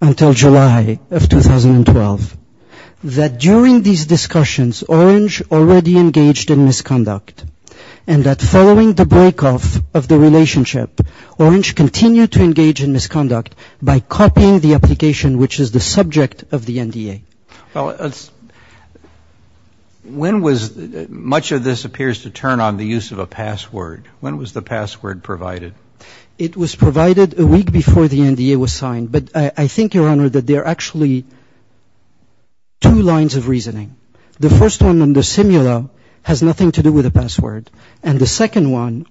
until July of 2012, that during these discussions, Orange already engaged in misconduct, and that following the break-off of the relationship, Orange continued to engage in misconduct by copying the application, which is the subject of the NDA. Well, when was – much of this appears to turn on the use of a password. When was the password provided? It was provided a week before the NDA was signed, but I think, Your Honor, that there are actually two lines of reasoning. The first one under Simula has nothing to do with a password, and the second one,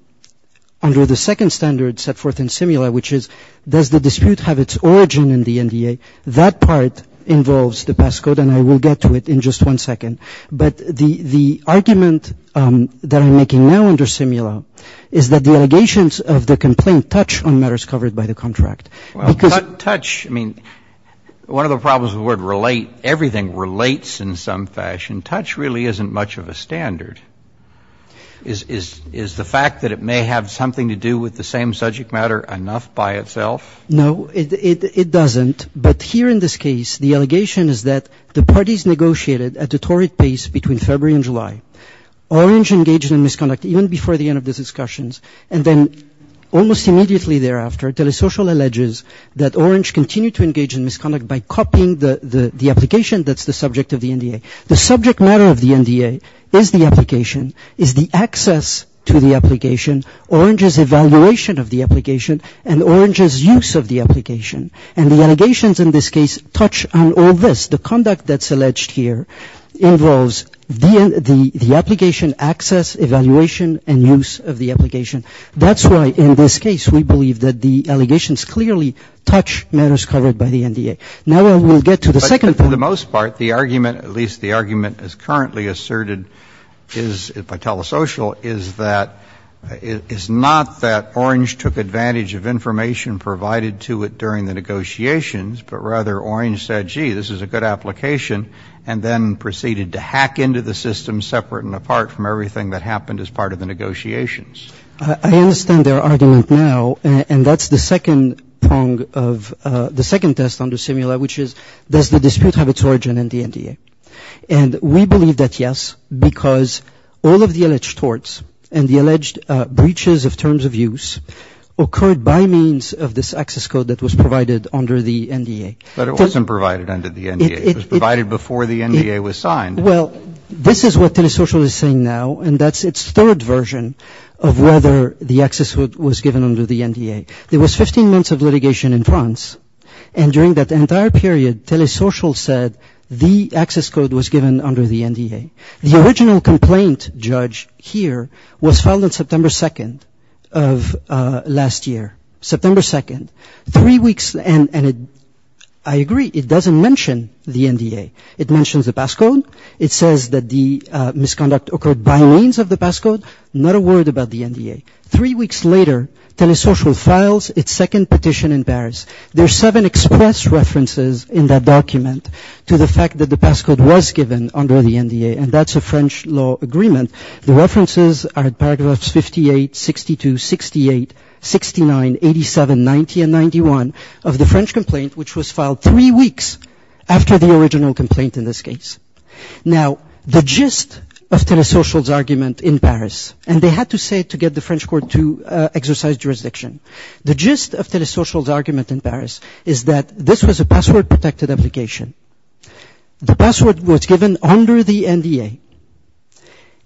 under the second standard set forth in Simula, which is does the dispute have its origin in the NDA, that part involves the passcode, and I will get to it in just one second. But the argument that I'm making now under Simula is that the allegations of the complaint touch on matters covered by the contract. Well, touch – I mean, one of the problems with the word relate, everything relates in some fashion. Touch really isn't much of a standard. Is the fact that it may have something to do with the same subject matter enough by itself? No, it doesn't, but here in this case, the allegation is that the parties negotiated at a torrid pace between February and July. Orange engaged in misconduct even before the end of the discussions, and then almost immediately thereafter, Telesocial alleges that Orange continued to engage in misconduct by copying the application that's the subject of the NDA. The subject matter of the NDA is the application, is the access to the application, Orange's evaluation of the application, and Orange's use of the application. And the allegations in this case touch on all this. The conduct that's alleged here involves the application access, evaluation, and use of the application. That's why, in this case, we believe that the allegations clearly touch matters covered by the NDA. Now I will get to the second point. But for the most part, the argument, at least the argument as currently asserted by Telesocial, is that – is not that Orange took advantage of information provided to it during the negotiations, but rather Orange said, gee, this is a good application, and then proceeded to hack into the system separate and apart from everything that happened as part of the negotiations. I understand their argument now. And that's the second prong of the second test under Simula, which is does the dispute have its origin in the NDA? And we believe that yes, because all of the alleged torts and the alleged breaches of terms of use occurred by means of this access code that was provided under the NDA. But it wasn't provided under the NDA. It was provided before the NDA was signed. Well, this is what Telesocial is saying now, and that's its third version of whether the access code was given under the NDA. There was 15 months of litigation in France, and during that entire period Telesocial said the access code was given under the NDA. The original complaint, judge, here, was filed on September 2nd of last year. September 2nd. Three weeks, and I agree, it doesn't mention the NDA. It mentions the pass code. It says that the misconduct occurred by means of the pass code. Not a word about the NDA. Three weeks later, Telesocial files its second petition in Paris. There are seven express references in that document to the fact that the pass code was given under the NDA, and that's a French law agreement. The references are paragraphs 58, 62, 68, 69, 87, 90, and 91 of the French complaint, which was filed three weeks after the original complaint in this case. Now, the gist of Telesocial's argument in Paris, and they had to say it to get the French court to exercise jurisdiction. The gist of Telesocial's argument in Paris is that this was a password-protected application. The password was given under the NDA,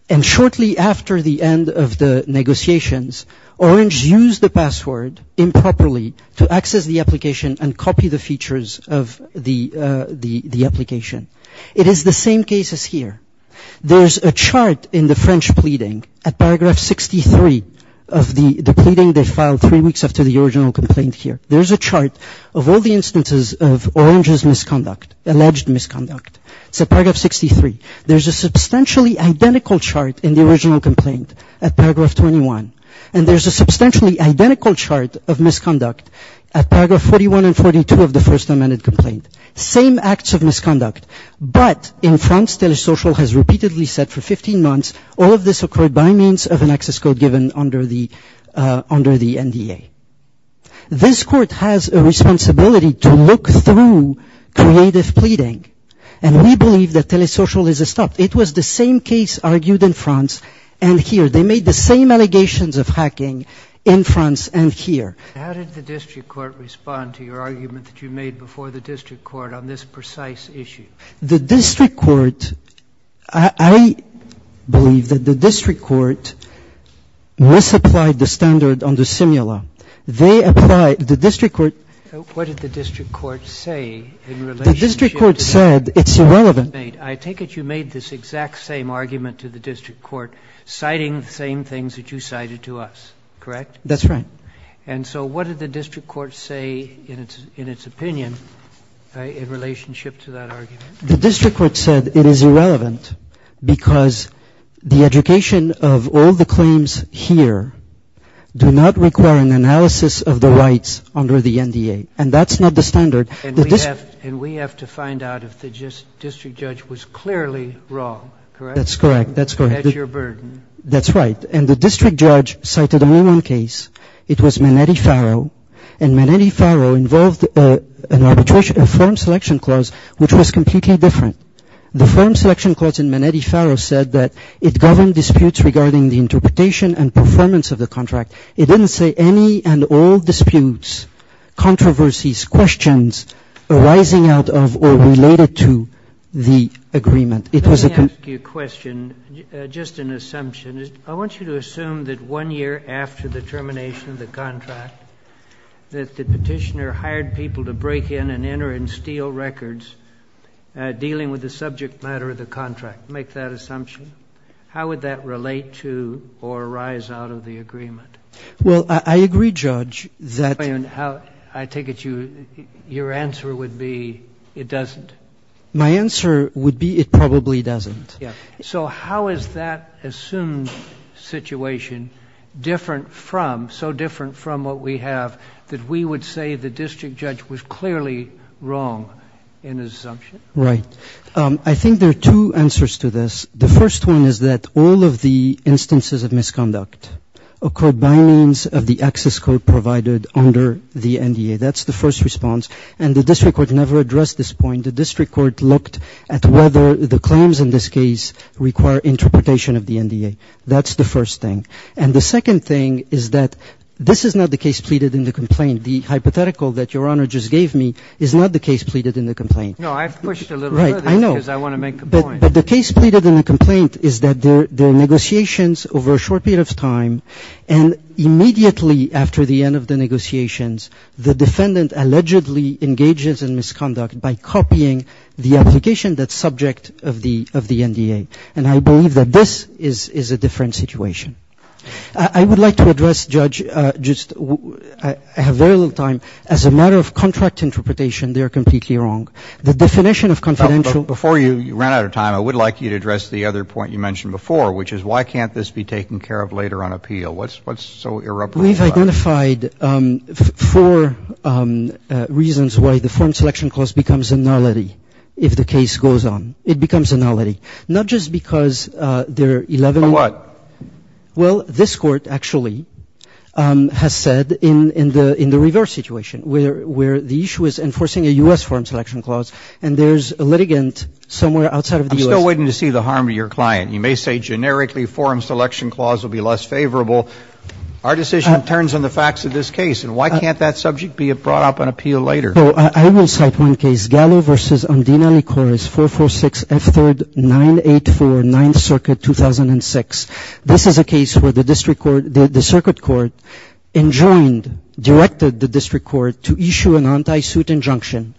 and shortly after the end of the negotiations, Orange used the password improperly to access the application and copy the features of the application. It is the same case as here. There's a chart in the French pleading at paragraph 63 of the pleading they filed three weeks after the original complaint here. There's a chart of all the instances of Orange's misconduct, alleged misconduct. It's at paragraph 63. There's a substantially identical chart in the original complaint at paragraph 21, and there's a substantially identical chart of misconduct at paragraph 41 and 42 of the First Amendment complaint. Same acts of misconduct, but in France, Telesocial has repeatedly said for 15 months, all of this occurred by means of an access code given under the NDA. This court has a responsibility to look through creative pleading, and we believe that Telesocial is a stop. It was the same case argued in France and here. They made the same allegations of hacking in France and here. How did the district court respond to your argument that you made before the district court on this precise issue? The district court, I believe that the district court misapplied the standard on the simula. They applied the district court. What did the district court say in relationship? The district court said it's irrelevant. I take it you made this exact same argument to the district court citing the same things that you cited to us, correct? That's right. And so what did the district court say in its opinion in relationship to that argument? The district court said it is irrelevant because the education of all the claims here do not require an analysis of the rights under the NDA, and that's not the standard. And we have to find out if the district judge was clearly wrong, correct? That's correct. That's your burden. That's right. And the district judge cited only one case. It was Manetti-Farrow, and Manetti-Farrow involved a form selection clause which was completely different. The form selection clause in Manetti-Farrow said that it governed disputes regarding the interpretation and performance of the contract. It didn't say any and all disputes, controversies, questions arising out of or related to the agreement. Let me ask you a question, just an assumption. I want you to assume that one year after the termination of the contract, that the Petitioner hired people to break in and enter and steal records dealing with the subject matter of the contract. Make that assumption. How would that relate to or arise out of the agreement? Well, I agree, Judge, that your answer would be it doesn't. My answer would be it probably doesn't. So how is that assumed situation different from, so different from what we have, that we would say the district judge was clearly wrong in his assumption? Right. I think there are two answers to this. The first one is that all of the instances of misconduct occurred by means of the access code provided under the NDA. That's the first response. And the district court never addressed this point. The district court looked at whether the claims in this case require interpretation of the NDA. That's the first thing. And the second thing is that this is not the case pleaded in the complaint. The hypothetical that Your Honor just gave me is not the case pleaded in the complaint. No, I pushed a little further because I want to make a point. But the case pleaded in the complaint is that there are negotiations over a short period of time, and immediately after the end of the negotiations, the defendant allegedly engages in misconduct by copying the application that's subject of the NDA. And I believe that this is a different situation. I would like to address, Judge, I have very little time. As a matter of contract interpretation, they are completely wrong. The definition of confidential. Before you run out of time, I would like you to address the other point you mentioned before, which is why can't this be taken care of later on appeal? What's so irreproachable about it? We've identified four reasons why the forum selection clause becomes a nullity if the case goes on. It becomes a nullity. Not just because there are 11. For what? Well, this Court actually has said in the reverse situation, where the issue is enforcing a U.S. forum selection clause, and there's a litigant somewhere outside of the U.S. I'm still waiting to see the harm to your client. You may say generically forum selection clause will be less favorable. Our decision turns on the facts of this case. And why can't that subject be brought up on appeal later? Well, I will cite one case. Gallo v. Andina Licoris, 446 F. 3rd, 984, 9th Circuit, 2006. This is a case where the district court, the circuit court, enjoined, directed the district court to issue an anti-suit injunction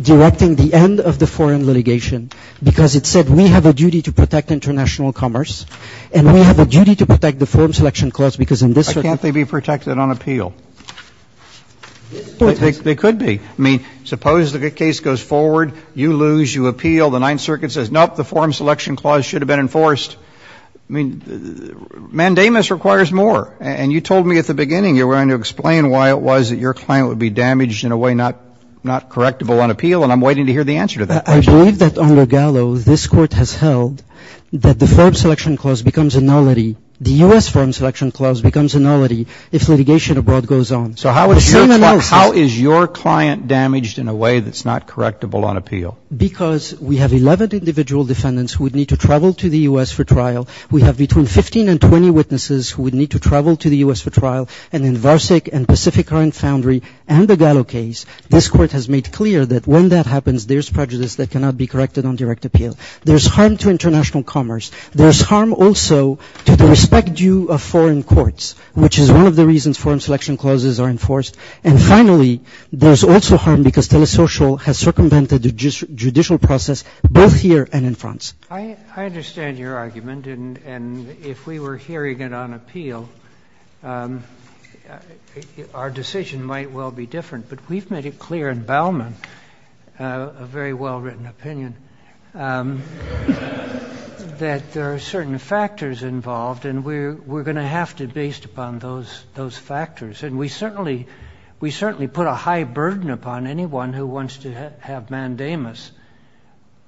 directing the end of the foreign litigation because it said we have a duty to protect international commerce, and we have a duty to protect the forum selection clause because in this circuit I can't they be protected on appeal? They could be. I mean, suppose the case goes forward. You lose. You appeal. The 9th Circuit says, nope, the forum selection clause should have been enforced. I mean, mandamus requires more. And you told me at the beginning you were going to explain why it was that your client would be damaged in a way not correctable on appeal, and I'm waiting to hear the answer to that question. I believe that on the Gallo, this court has held that the forum selection clause becomes a nullity. The U.S. forum selection clause becomes a nullity if litigation abroad goes on. So how is your client damaged in a way that's not correctable on appeal? Because we have 11 individual defendants who would need to travel to the U.S. for trial. We have between 15 and 20 witnesses who would need to travel to the U.S. for trial. And in Varsic and Pacific Current Foundry and the Gallo case, this court has made clear that when that happens, there's prejudice that cannot be corrected on direct appeal. There's harm to international commerce. There's harm also to the respect due of foreign courts, which is one of the reasons forum selection clauses are enforced. And finally, there's also harm because Telesocial has circumvented the judicial process both here and in France. I understand your argument. And if we were hearing it on appeal, our decision might well be different. But we've made it clear in Bauman, a very well-written opinion, that there are certain factors involved. And we're going to have to based upon those factors. And we certainly put a high burden upon anyone who wants to have mandamus.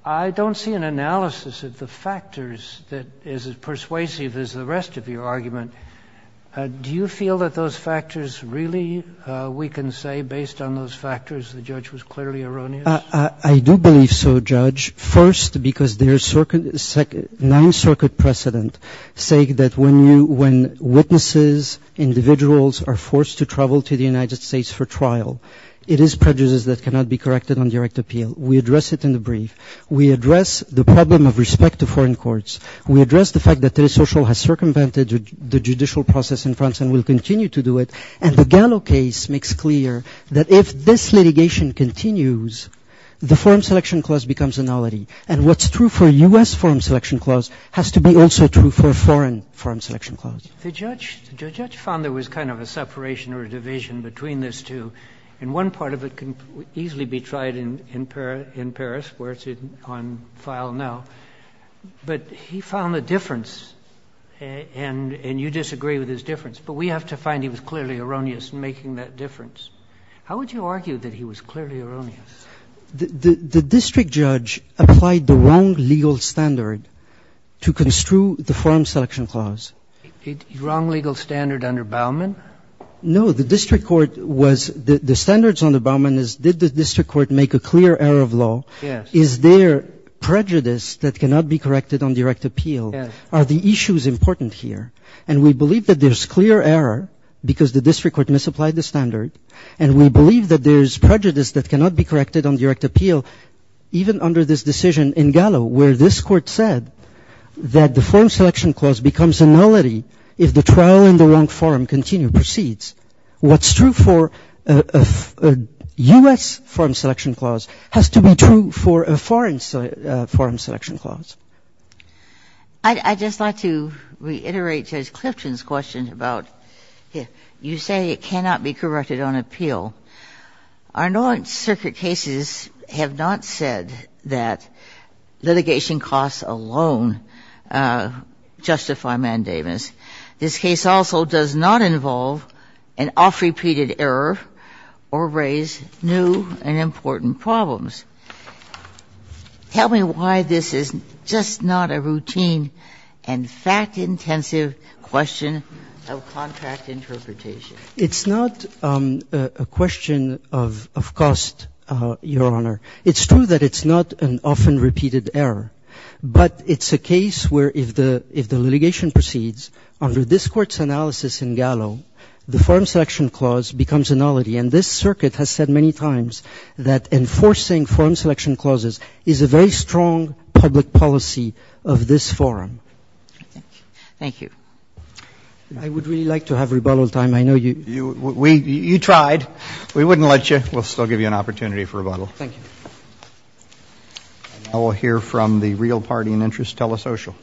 I don't see an analysis of the factors that is as persuasive as the rest of your argument. Do you feel that those factors really, we can say, based on those factors, the judge was clearly erroneous? I do believe so, Judge, first because there is nine circuit precedent saying that when witnesses, individuals are forced to travel to the United States for trial, it is prejudice that cannot be corrected on direct appeal. We address it in the brief. We address the problem of respect to foreign courts. We address the fact that Telesocial has circumvented the judicial process in France and will continue to do it. And the Gallo case makes clear that if this litigation continues, the Foreign Selection Clause becomes a nullity. And what's true for U.S. Foreign Selection Clause has to be also true for foreign Foreign Selection Clause. The judge found there was kind of a separation or a division between these two. And one part of it can easily be tried in Paris where it's on file now. But he found a difference, and you disagree with his difference. But we have to find he was clearly erroneous in making that difference. How would you argue that he was clearly erroneous? The district judge applied the wrong legal standard to construe the Foreign Selection Clause. Wrong legal standard under Baumann? No. The district court was the standards under Baumann is did the district court make a clear error of law? Yes. Is there prejudice that cannot be corrected on direct appeal? Yes. Are the issues important here? And we believe that there's clear error because the district court misapplied the standard. And we believe that there's prejudice that cannot be corrected on direct appeal even under this decision in Gallo where this court said that the Foreign Selection What's true for a U.S. Foreign Selection Clause has to be true for a foreign Foreign Selection Clause. I'd just like to reiterate Judge Clifton's question about you say it cannot be corrected on appeal. Our North Circuit cases have not said that litigation costs alone justify mandamus. This case also does not involve an oft-repeated error or raise new and important problems. Tell me why this is just not a routine and fact-intensive question of contract interpretation. It's not a question of cost, Your Honor. It's true that it's not an oft-repeated error, but it's a case where if the litigation proceeds under this Court's analysis in Gallo, the Foreign Selection Clause becomes a nullity. And this Circuit has said many times that enforcing Foreign Selection Clauses is a very strong public policy of this forum. Thank you. I would really like to have rebuttal time. I know you ---- You tried. We wouldn't let you. We'll still give you an opportunity for rebuttal. Thank you. And now we'll hear from the Real Party and Interest Telesocial.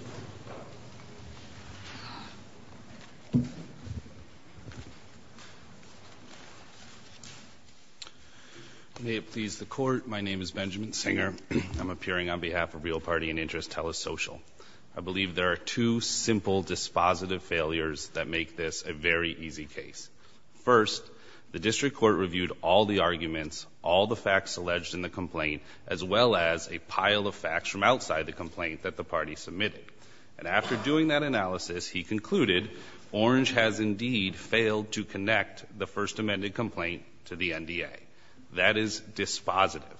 May it please the Court, my name is Benjamin Singer. I'm appearing on behalf of Real Party and Interest Telesocial. I believe there are two simple dispositive failures that make this a very easy case. First, the District Court reviewed all the arguments, all the facts alleged in the complaint, as well as a pile of facts from outside the complaint that the party submitted. And after doing that analysis, he concluded Orange has indeed failed to connect the First Amendment complaint to the NDA. That is dispositive.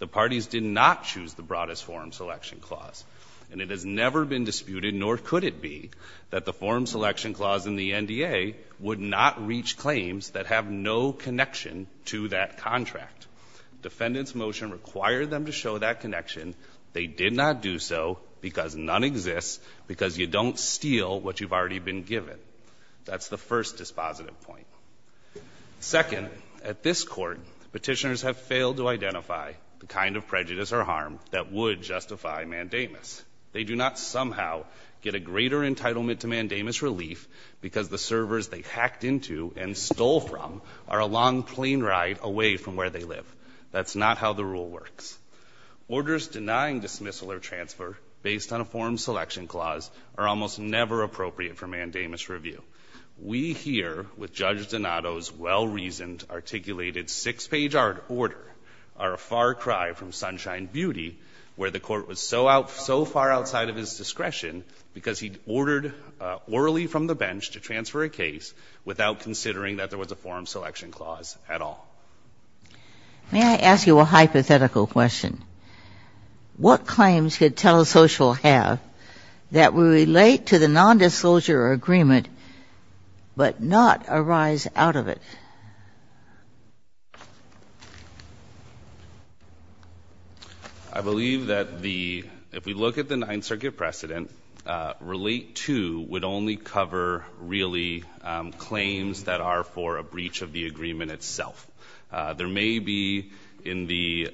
The parties did not choose the Broadest Forum Selection Clause. And it has never been disputed, nor could it be, that the Forum Selection Clause in the NDA would not reach claims that have no connection to that contract. Defendant's motion required them to show that connection. They did not do so because none exists, because you don't steal what you've already been given. That's the first dispositive point. Second, at this Court, petitioners have failed to identify the kind of prejudice or harm that would justify mandamus. They do not somehow get a greater entitlement to mandamus relief because the servers they hacked into and stole from are a long plane ride away from where they live. That's not how the rule works. Orders denying dismissal or transfer based on a Forum Selection Clause are almost never appropriate for mandamus review. We here, with Judge Donato's well-reasoned, articulated six-page order, are a far cry from Sunshine Beauty, where the Court was so far outside of his discretion because he ordered orally from the bench to transfer a case without considering that there was a Forum Selection Clause at all. May I ask you a hypothetical question? What claims could Telesocial have that would relate to the nondisclosure agreement but not arise out of it? I believe that the — if we look at the Ninth Circuit precedent, relate to would only cover, really, claims that are for a breach of the agreement itself. There may be in the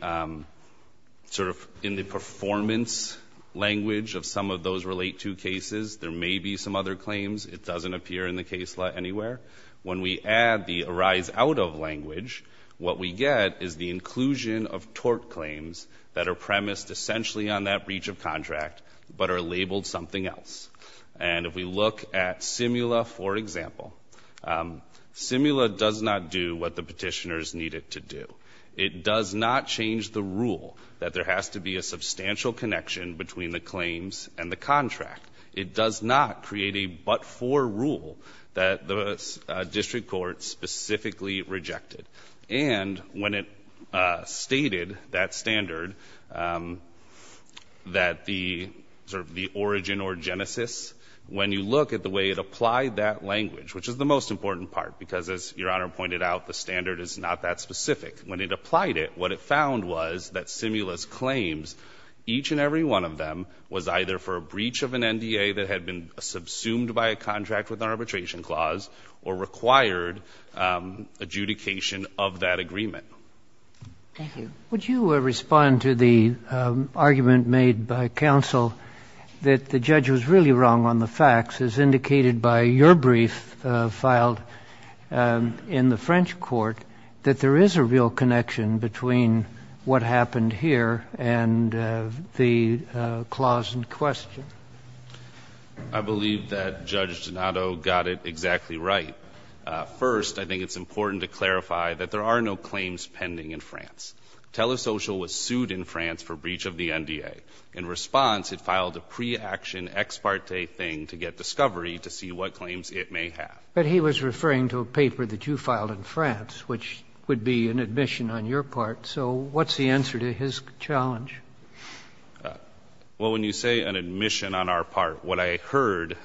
performance language of some of those relate to cases, there may be some other claims. It doesn't appear in the case anywhere. When we add the arise out of language, what we get is the inclusion of tort And if we look at Simula, for example, Simula does not do what the petitioners needed to do. It does not change the rule that there has to be a substantial connection between the claims and the contract. It does not create a but-for rule that the District Court specifically rejected. And when it stated that standard, that the origin or genesis, when you look at the way it applied that language, which is the most important part, because as Your Honor pointed out, the standard is not that specific. When it applied it, what it found was that Simula's claims, each and every one of them, was either for a breach of an NDA that had been subsumed by a contract with an arbitration clause or required adjudication of that agreement. Thank you. Would you respond to the argument made by counsel that the judge was really wrong on the facts, as indicated by your brief filed in the French court, that there is a real connection between what happened here and the clause in question? I believe that Judge Donato got it exactly right. First, I think it's important to clarify that there are no claims pending in France. Telesocial was sued in France for breach of the NDA. In response, it filed a pre-action ex parte thing to get discovery to see what claims it may have. But he was referring to a paper that you filed in France, which would be an admission on your part. So what's the answer to his challenge? Well, when you say an admission on our part, what I heard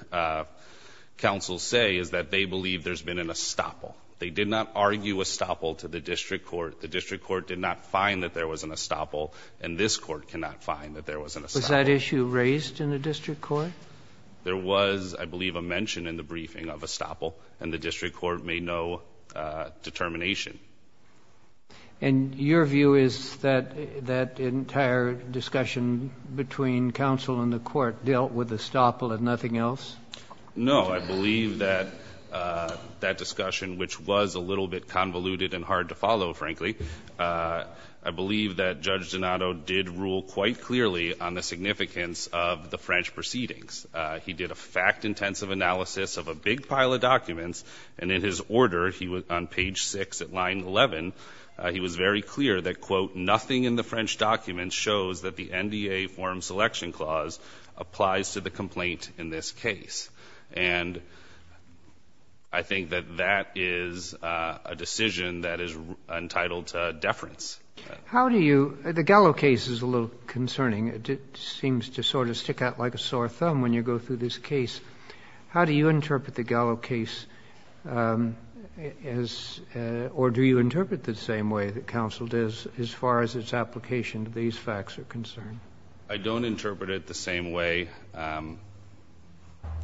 counsel say is that they believe there's been an estoppel. They did not argue estoppel to the district court. The district court did not find that there was an estoppel, and this court cannot find that there was an estoppel. Was that issue raised in the district court? There was, I believe, a mention in the briefing of estoppel, and the district court made no determination. And your view is that that entire discussion between counsel and the court dealt with estoppel and nothing else? No. I believe that that discussion, which was a little bit convoluted and hard to follow, frankly, I believe that Judge Donato did rule quite clearly on the significance of the French proceedings. He did a fact-intensive analysis of a big pile of documents, and in his order, he was on page 6 at line 11, he was very clear that, quote, nothing in the French documents shows that the NDA form selection clause applies to the complaint in this case. And I think that that is a decision that is entitled to deference. How do you – the Gallo case is a little concerning. It seems to sort of stick out like a sore thumb when you go through this case. How do you interpret the Gallo case as – or do you interpret it the same way that counsel does as far as its application to these facts are concerned? I don't interpret it the same way.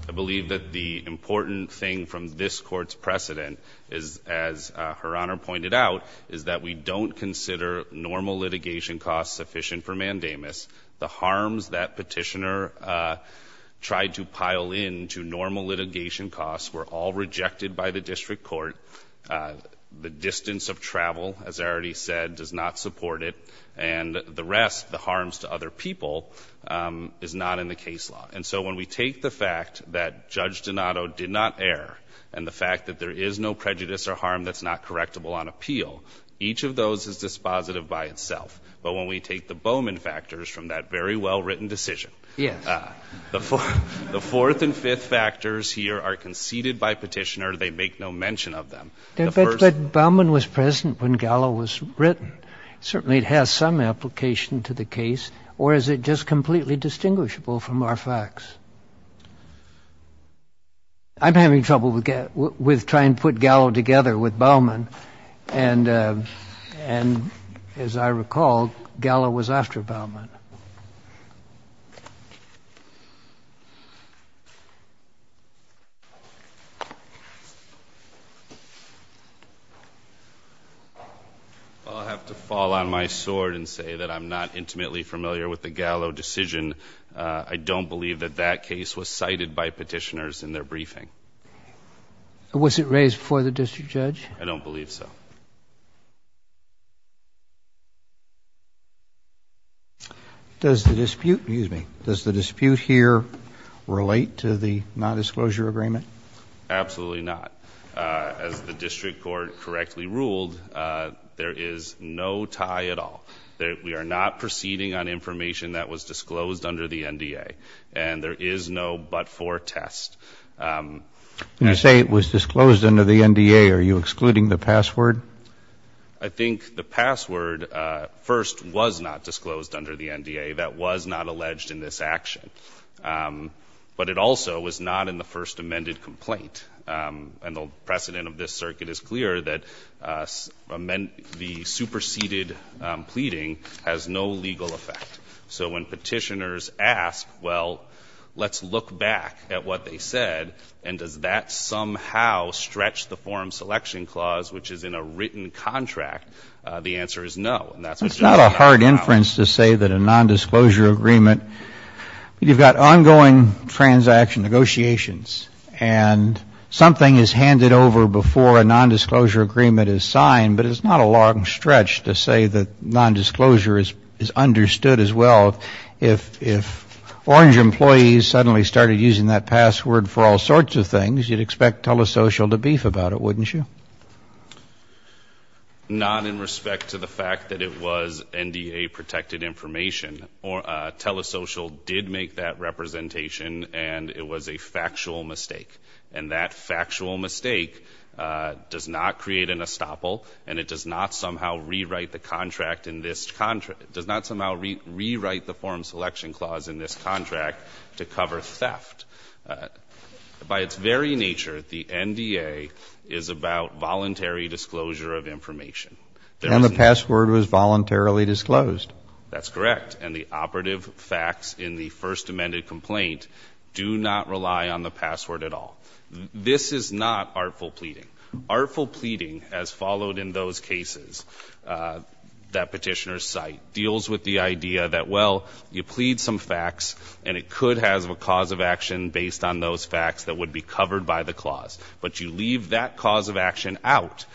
I believe that the important thing from this Court's precedent is, as Her Honor pointed out, is that we don't consider normal litigation costs sufficient for mandamus. The harms that Petitioner tried to pile in to normal litigation costs were all rejected by the district court. The distance of travel, as I already said, does not support it. And the rest, the harms to other people, is not in the case law. And so when we take the fact that Judge Donato did not err and the fact that there is no prejudice or harm that's not correctable on appeal, each of those is dispositive by itself. But when we take the Bowman factors from that very well-written decision, the fourth and fifth factors here are conceded by Petitioner. They make no mention of them. But Bowman was present when Gallo was written. Certainly it has some application to the case. Or is it just completely distinguishable from our facts? I'm having trouble with trying to put Gallo together with Bowman. And as I recall, Gallo was after Bowman. I'll have to fall on my sword and say that I'm not intimately familiar with the Gallo decision. I don't believe that that case was cited by Petitioners in their briefing. Was it raised before the district judge? I don't believe so. Does the dispute here relate to the non-disclosure agreement? Absolutely not. As the district court correctly ruled, there is no tie at all. We are not proceeding on information that was disclosed under the NDA. And there is no but-for test. You say it was disclosed under the NDA. Are you excluding the password? I think the password first was not disclosed under the NDA. That was not alleged in this action. But it also was not in the first amended complaint. And the precedent of this circuit is clear that the superseded pleading has no legal effect. So when Petitioners asked, well, let's look back at what they said, and does that somehow stretch the forum selection clause, which is in a written contract, the answer is no. And that's what you're talking about now. It's not a hard inference to say that a non-disclosure agreement, you've got ongoing transaction negotiations, and something is handed over before a non-disclosure agreement is signed. But it's not a long stretch to say that non-disclosure is understood as well. If Orange employees suddenly started using that password for all sorts of things, you'd expect Telesocial to beef about it, wouldn't you? Not in respect to the fact that it was NDA-protected information. Telesocial did make that representation, and it was a factual mistake. And that factual mistake does not create an estoppel, and it does not somehow rewrite the forum selection clause in this contract to cover theft. By its very nature, the NDA is about voluntary disclosure of information. And the password was voluntarily disclosed. That's correct. And the operative facts in the first amended complaint do not rely on the password at all. This is not artful pleading. Artful pleading, as followed in those cases that petitioners cite, deals with the idea that, well, you plead some facts, and it could have a cause of action based on those facts that would be covered by the clause. But you leave that cause of action out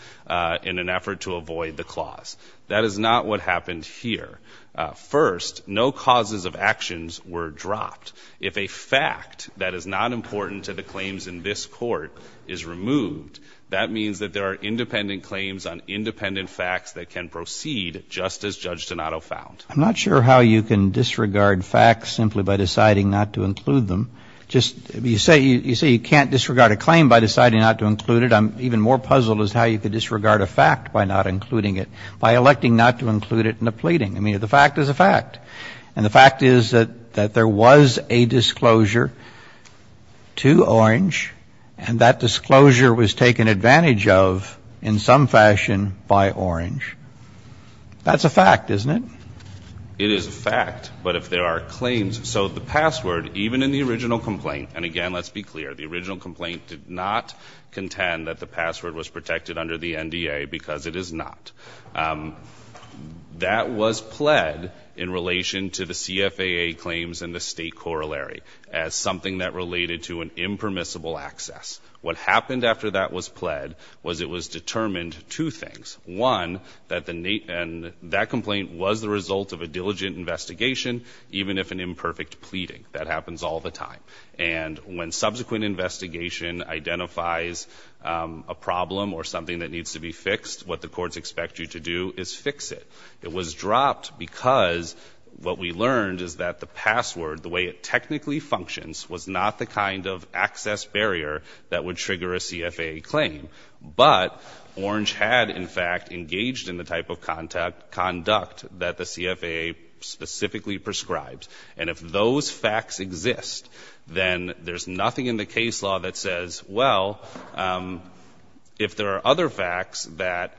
in an effort to avoid the clause. That is not what happened here. First, no causes of actions were dropped. If a fact that is not important to the claims in this court is removed, that means that there are independent claims on independent facts that can proceed just as Judge Donato found. I'm not sure how you can disregard facts simply by deciding not to include them. You say you can't disregard a claim by deciding not to include it. Even more puzzled is how you could disregard a fact by not including it, by electing not to include it in a pleading. I mean, the fact is a fact. And the fact is that there was a disclosure to Orange, and that disclosure was taken advantage of in some fashion by Orange. That's a fact, isn't it? It is a fact, but if there are claims. So the password, even in the original complaint, and again, let's be clear, the original complaint did not contend that the password was protected under the NDA because it is not. That was pled in relation to the CFAA claims in the State Corollary as something that related to an impermissible access. What happened after that was pled was it was determined two things. One, that the nate and that complaint was the result of a diligent investigation, even if an imperfect pleading. That happens all the time. And when subsequent investigation identifies a problem or something that needs to be fixed, what the courts expect you to do is fix it. It was dropped because what we learned is that the password, the way it technically functions, was not the kind of access barrier that would trigger a CFAA claim. But Orange had, in fact, engaged in the type of conduct that the CFAA specifically prescribed. And if those facts exist, then there's nothing in the case law that says, well, if there are other facts that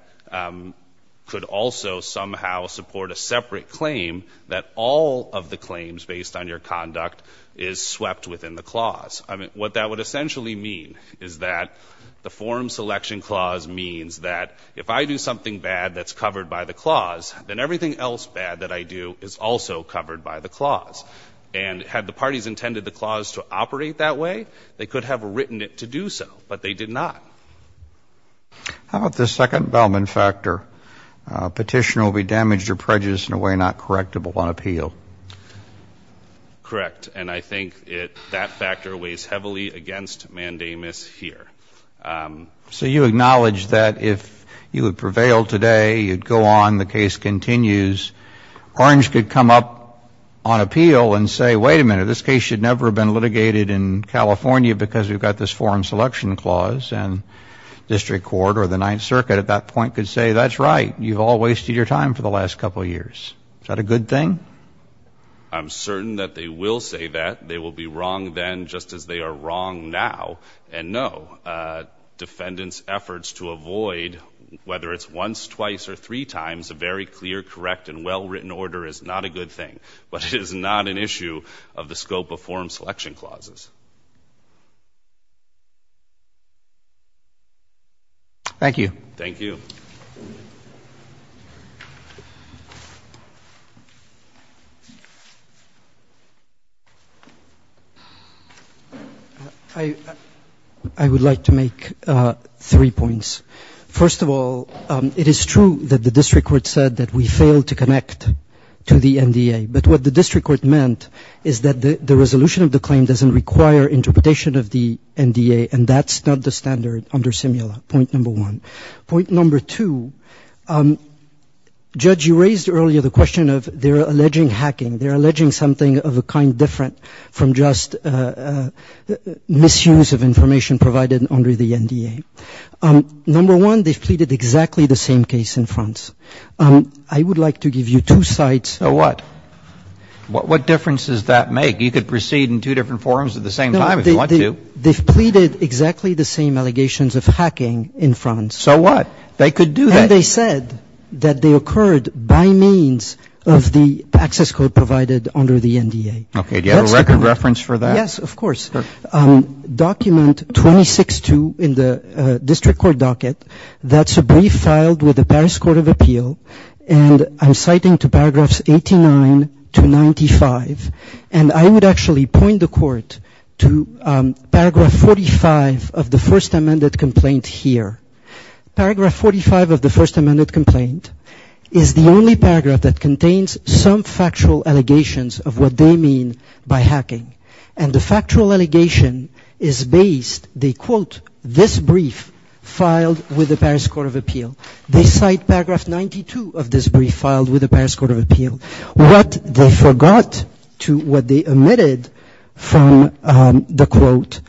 could also somehow support a separate claim, that all of the claims based on your conduct is swept within the clause. What that would essentially mean is that the form selection clause means that if I do something bad that's covered by the clause, then everything else bad that I do is also covered by the clause. And had the parties intended the clause to operate that way, they could have written it to do so. But they did not. How about the second Bellman factor? Petitioner will be damaged or prejudiced in a way not correctable on appeal. Correct. And I think that factor weighs heavily against mandamus here. So you acknowledge that if you had prevailed today, you'd go on, the case continues, Orange could come up on appeal and say, wait a minute, this case should never have been litigated in California because we've got this form selection clause. And district court or the Ninth Circuit at that point could say, that's right. You've all wasted your time for the last couple of years. Is that a good thing? I'm certain that they will say that. They will be wrong then, just as they are wrong now. And, no, defendants' efforts to avoid, whether it's once, twice, or three times, a very clear, correct, and well-written order is not a good thing. But it is not an issue of the scope of form selection clauses. Thank you. Thank you. Thank you. I would like to make three points. First of all, it is true that the district court said that we failed to connect to the NDA. But what the district court meant is that the resolution of the claim doesn't require interpretation of the NDA, and that's not the standard under simula, point number one. Point number two, Judge, you raised earlier the question of they're alleging hacking. They're alleging something of a kind different from just misuse of information provided under the NDA. Number one, they've pleaded exactly the same case in France. I would like to give you two sides. So what? What difference does that make? You could proceed in two different forums at the same time if you want to. They've pleaded exactly the same allegations of hacking in France. So what? They could do that. And they said that they occurred by means of the access code provided under the NDA. Okay. Do you have a record reference for that? Yes, of course. Document 26-2 in the district court docket, that's a brief filed with the Paris Court of Appeal, and I'm citing to paragraphs 89 to 95. And I would actually point the court to paragraph 45 of the first amended complaint here. Paragraph 45 of the first amended complaint is the only paragraph that contains some factual allegations of what they mean by hacking. And the factual allegation is based, they quote, this brief filed with the Paris Court of Appeal. They cite paragraph 92 of this brief filed with the Paris Court of Appeal. What they forgot to what they omitted from the quote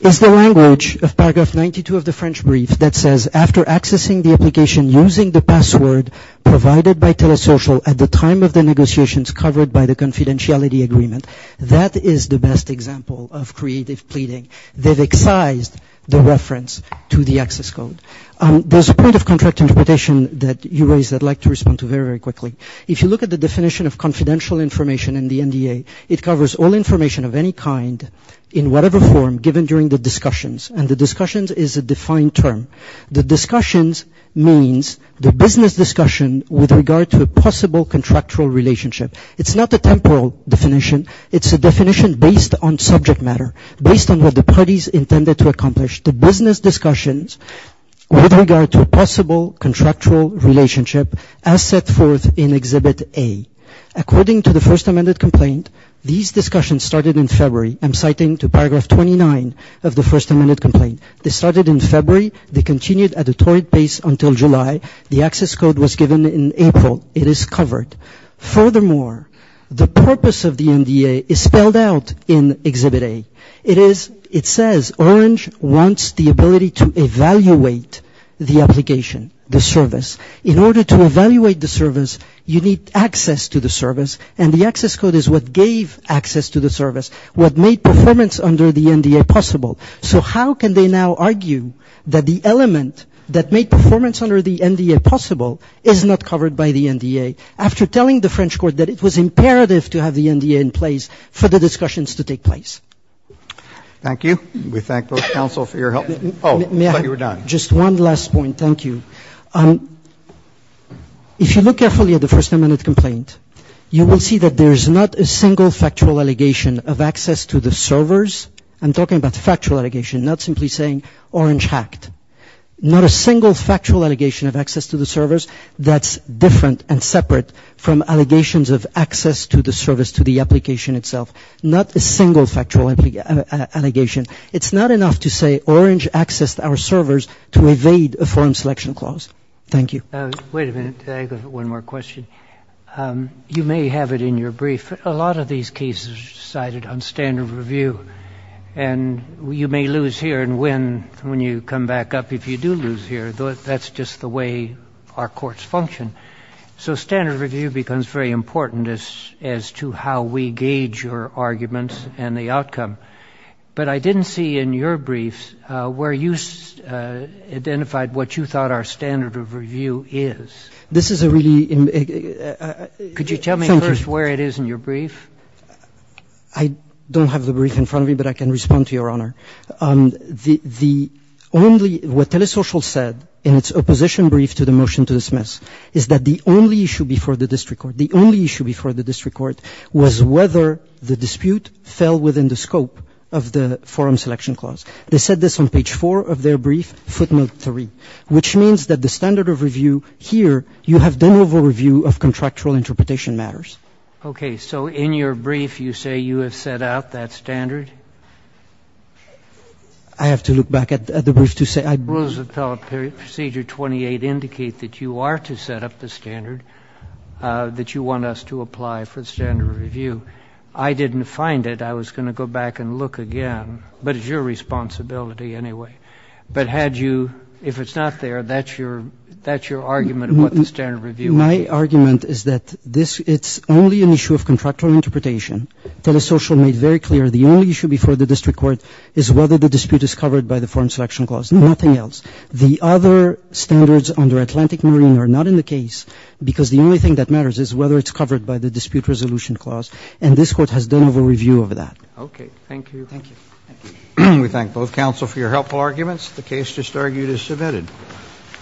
is the language of paragraph 92 of the French brief that says after accessing the application using the password provided by Telesocial at the time of the negotiations covered by the confidentiality agreement. That is the best example of creative pleading. They've excised the reference to the access code. There's a point of contract interpretation that you raised that I'd like to respond to very, very quickly. If you look at the definition of confidential information in the NDA, it covers all information of any kind in whatever form given during the discussions. And the discussions is a defined term. The discussions means the business discussion with regard to a possible contractual relationship. It's not a temporal definition. It's a definition based on subject matter, based on what the parties intended to accomplish. The business discussions with regard to a possible contractual relationship as set forth in Exhibit A. According to the First Amendment complaint, these discussions started in February. I'm citing to paragraph 29 of the First Amendment complaint. They started in February. They continued at a taut pace until July. The access code was given in April. It is covered. Furthermore, the purpose of the NDA is spelled out in Exhibit A. It says Orange wants the ability to evaluate the application, the service. In order to evaluate the service, you need access to the service, and the access code is what gave access to the service, what made performance under the NDA possible. So how can they now argue that the element that made performance under the NDA possible is not covered by the NDA, after telling the French court that it was imperative to have the NDA in place for the discussions to take place? Thank you. We thank both counsel for your help. Oh, I thought you were done. Just one last point. Thank you. If you look carefully at the First Amendment complaint, you will see that there is not a single factual allegation of access to the servers. I'm talking about the factual allegation, not simply saying Orange hacked. Not a single factual allegation of access to the servers. That's different and separate from allegations of access to the service, to the application itself. Not a single factual allegation. It's not enough to say Orange accessed our servers to evade a foreign selection clause. Thank you. Wait a minute. I have one more question. You may have it in your brief. A lot of these cases are decided on standard of review. And you may lose here and win when you come back up. If you do lose here, that's just the way our courts function. So standard of review becomes very important as to how we gauge your arguments and the outcome. But I didn't see in your briefs where you identified what you thought our standard of review is. This is a really ‑‑ Could you tell me first where it is in your brief? I don't have the brief in front of me, but I can respond to Your Honor. The only ‑‑ what Telesocial said in its opposition brief to the motion to dismiss is that the only issue before the district court, the only issue before the district court, was whether the dispute fell within the scope of the foreign selection clause. They said this on page 4 of their brief, footnote 3, which means that the standard of review here, you have done over review of contractual interpretation matters. Okay. So in your brief, you say you have set out that standard? I have to look back at the brief to say I ‑‑ Rules of Appellate Procedure 28 indicate that you are to set up the standard, that you want us to apply for the standard of review. I didn't find it. I was going to go back and look again. But it's your responsibility anyway. But had you ‑‑ if it's not there, that's your argument of what the standard of review is. My argument is that this ‑‑ it's only an issue of contractual interpretation. Telesocial made very clear the only issue before the district court is whether the dispute is covered by the foreign selection clause, nothing else. The other standards under Atlantic Marine are not in the case because the only thing that matters is whether it's covered by the dispute resolution clause. And this court has done over review of that. Okay. Thank you. Thank you. We thank both counsel for your helpful arguments. The case just argued is submitted.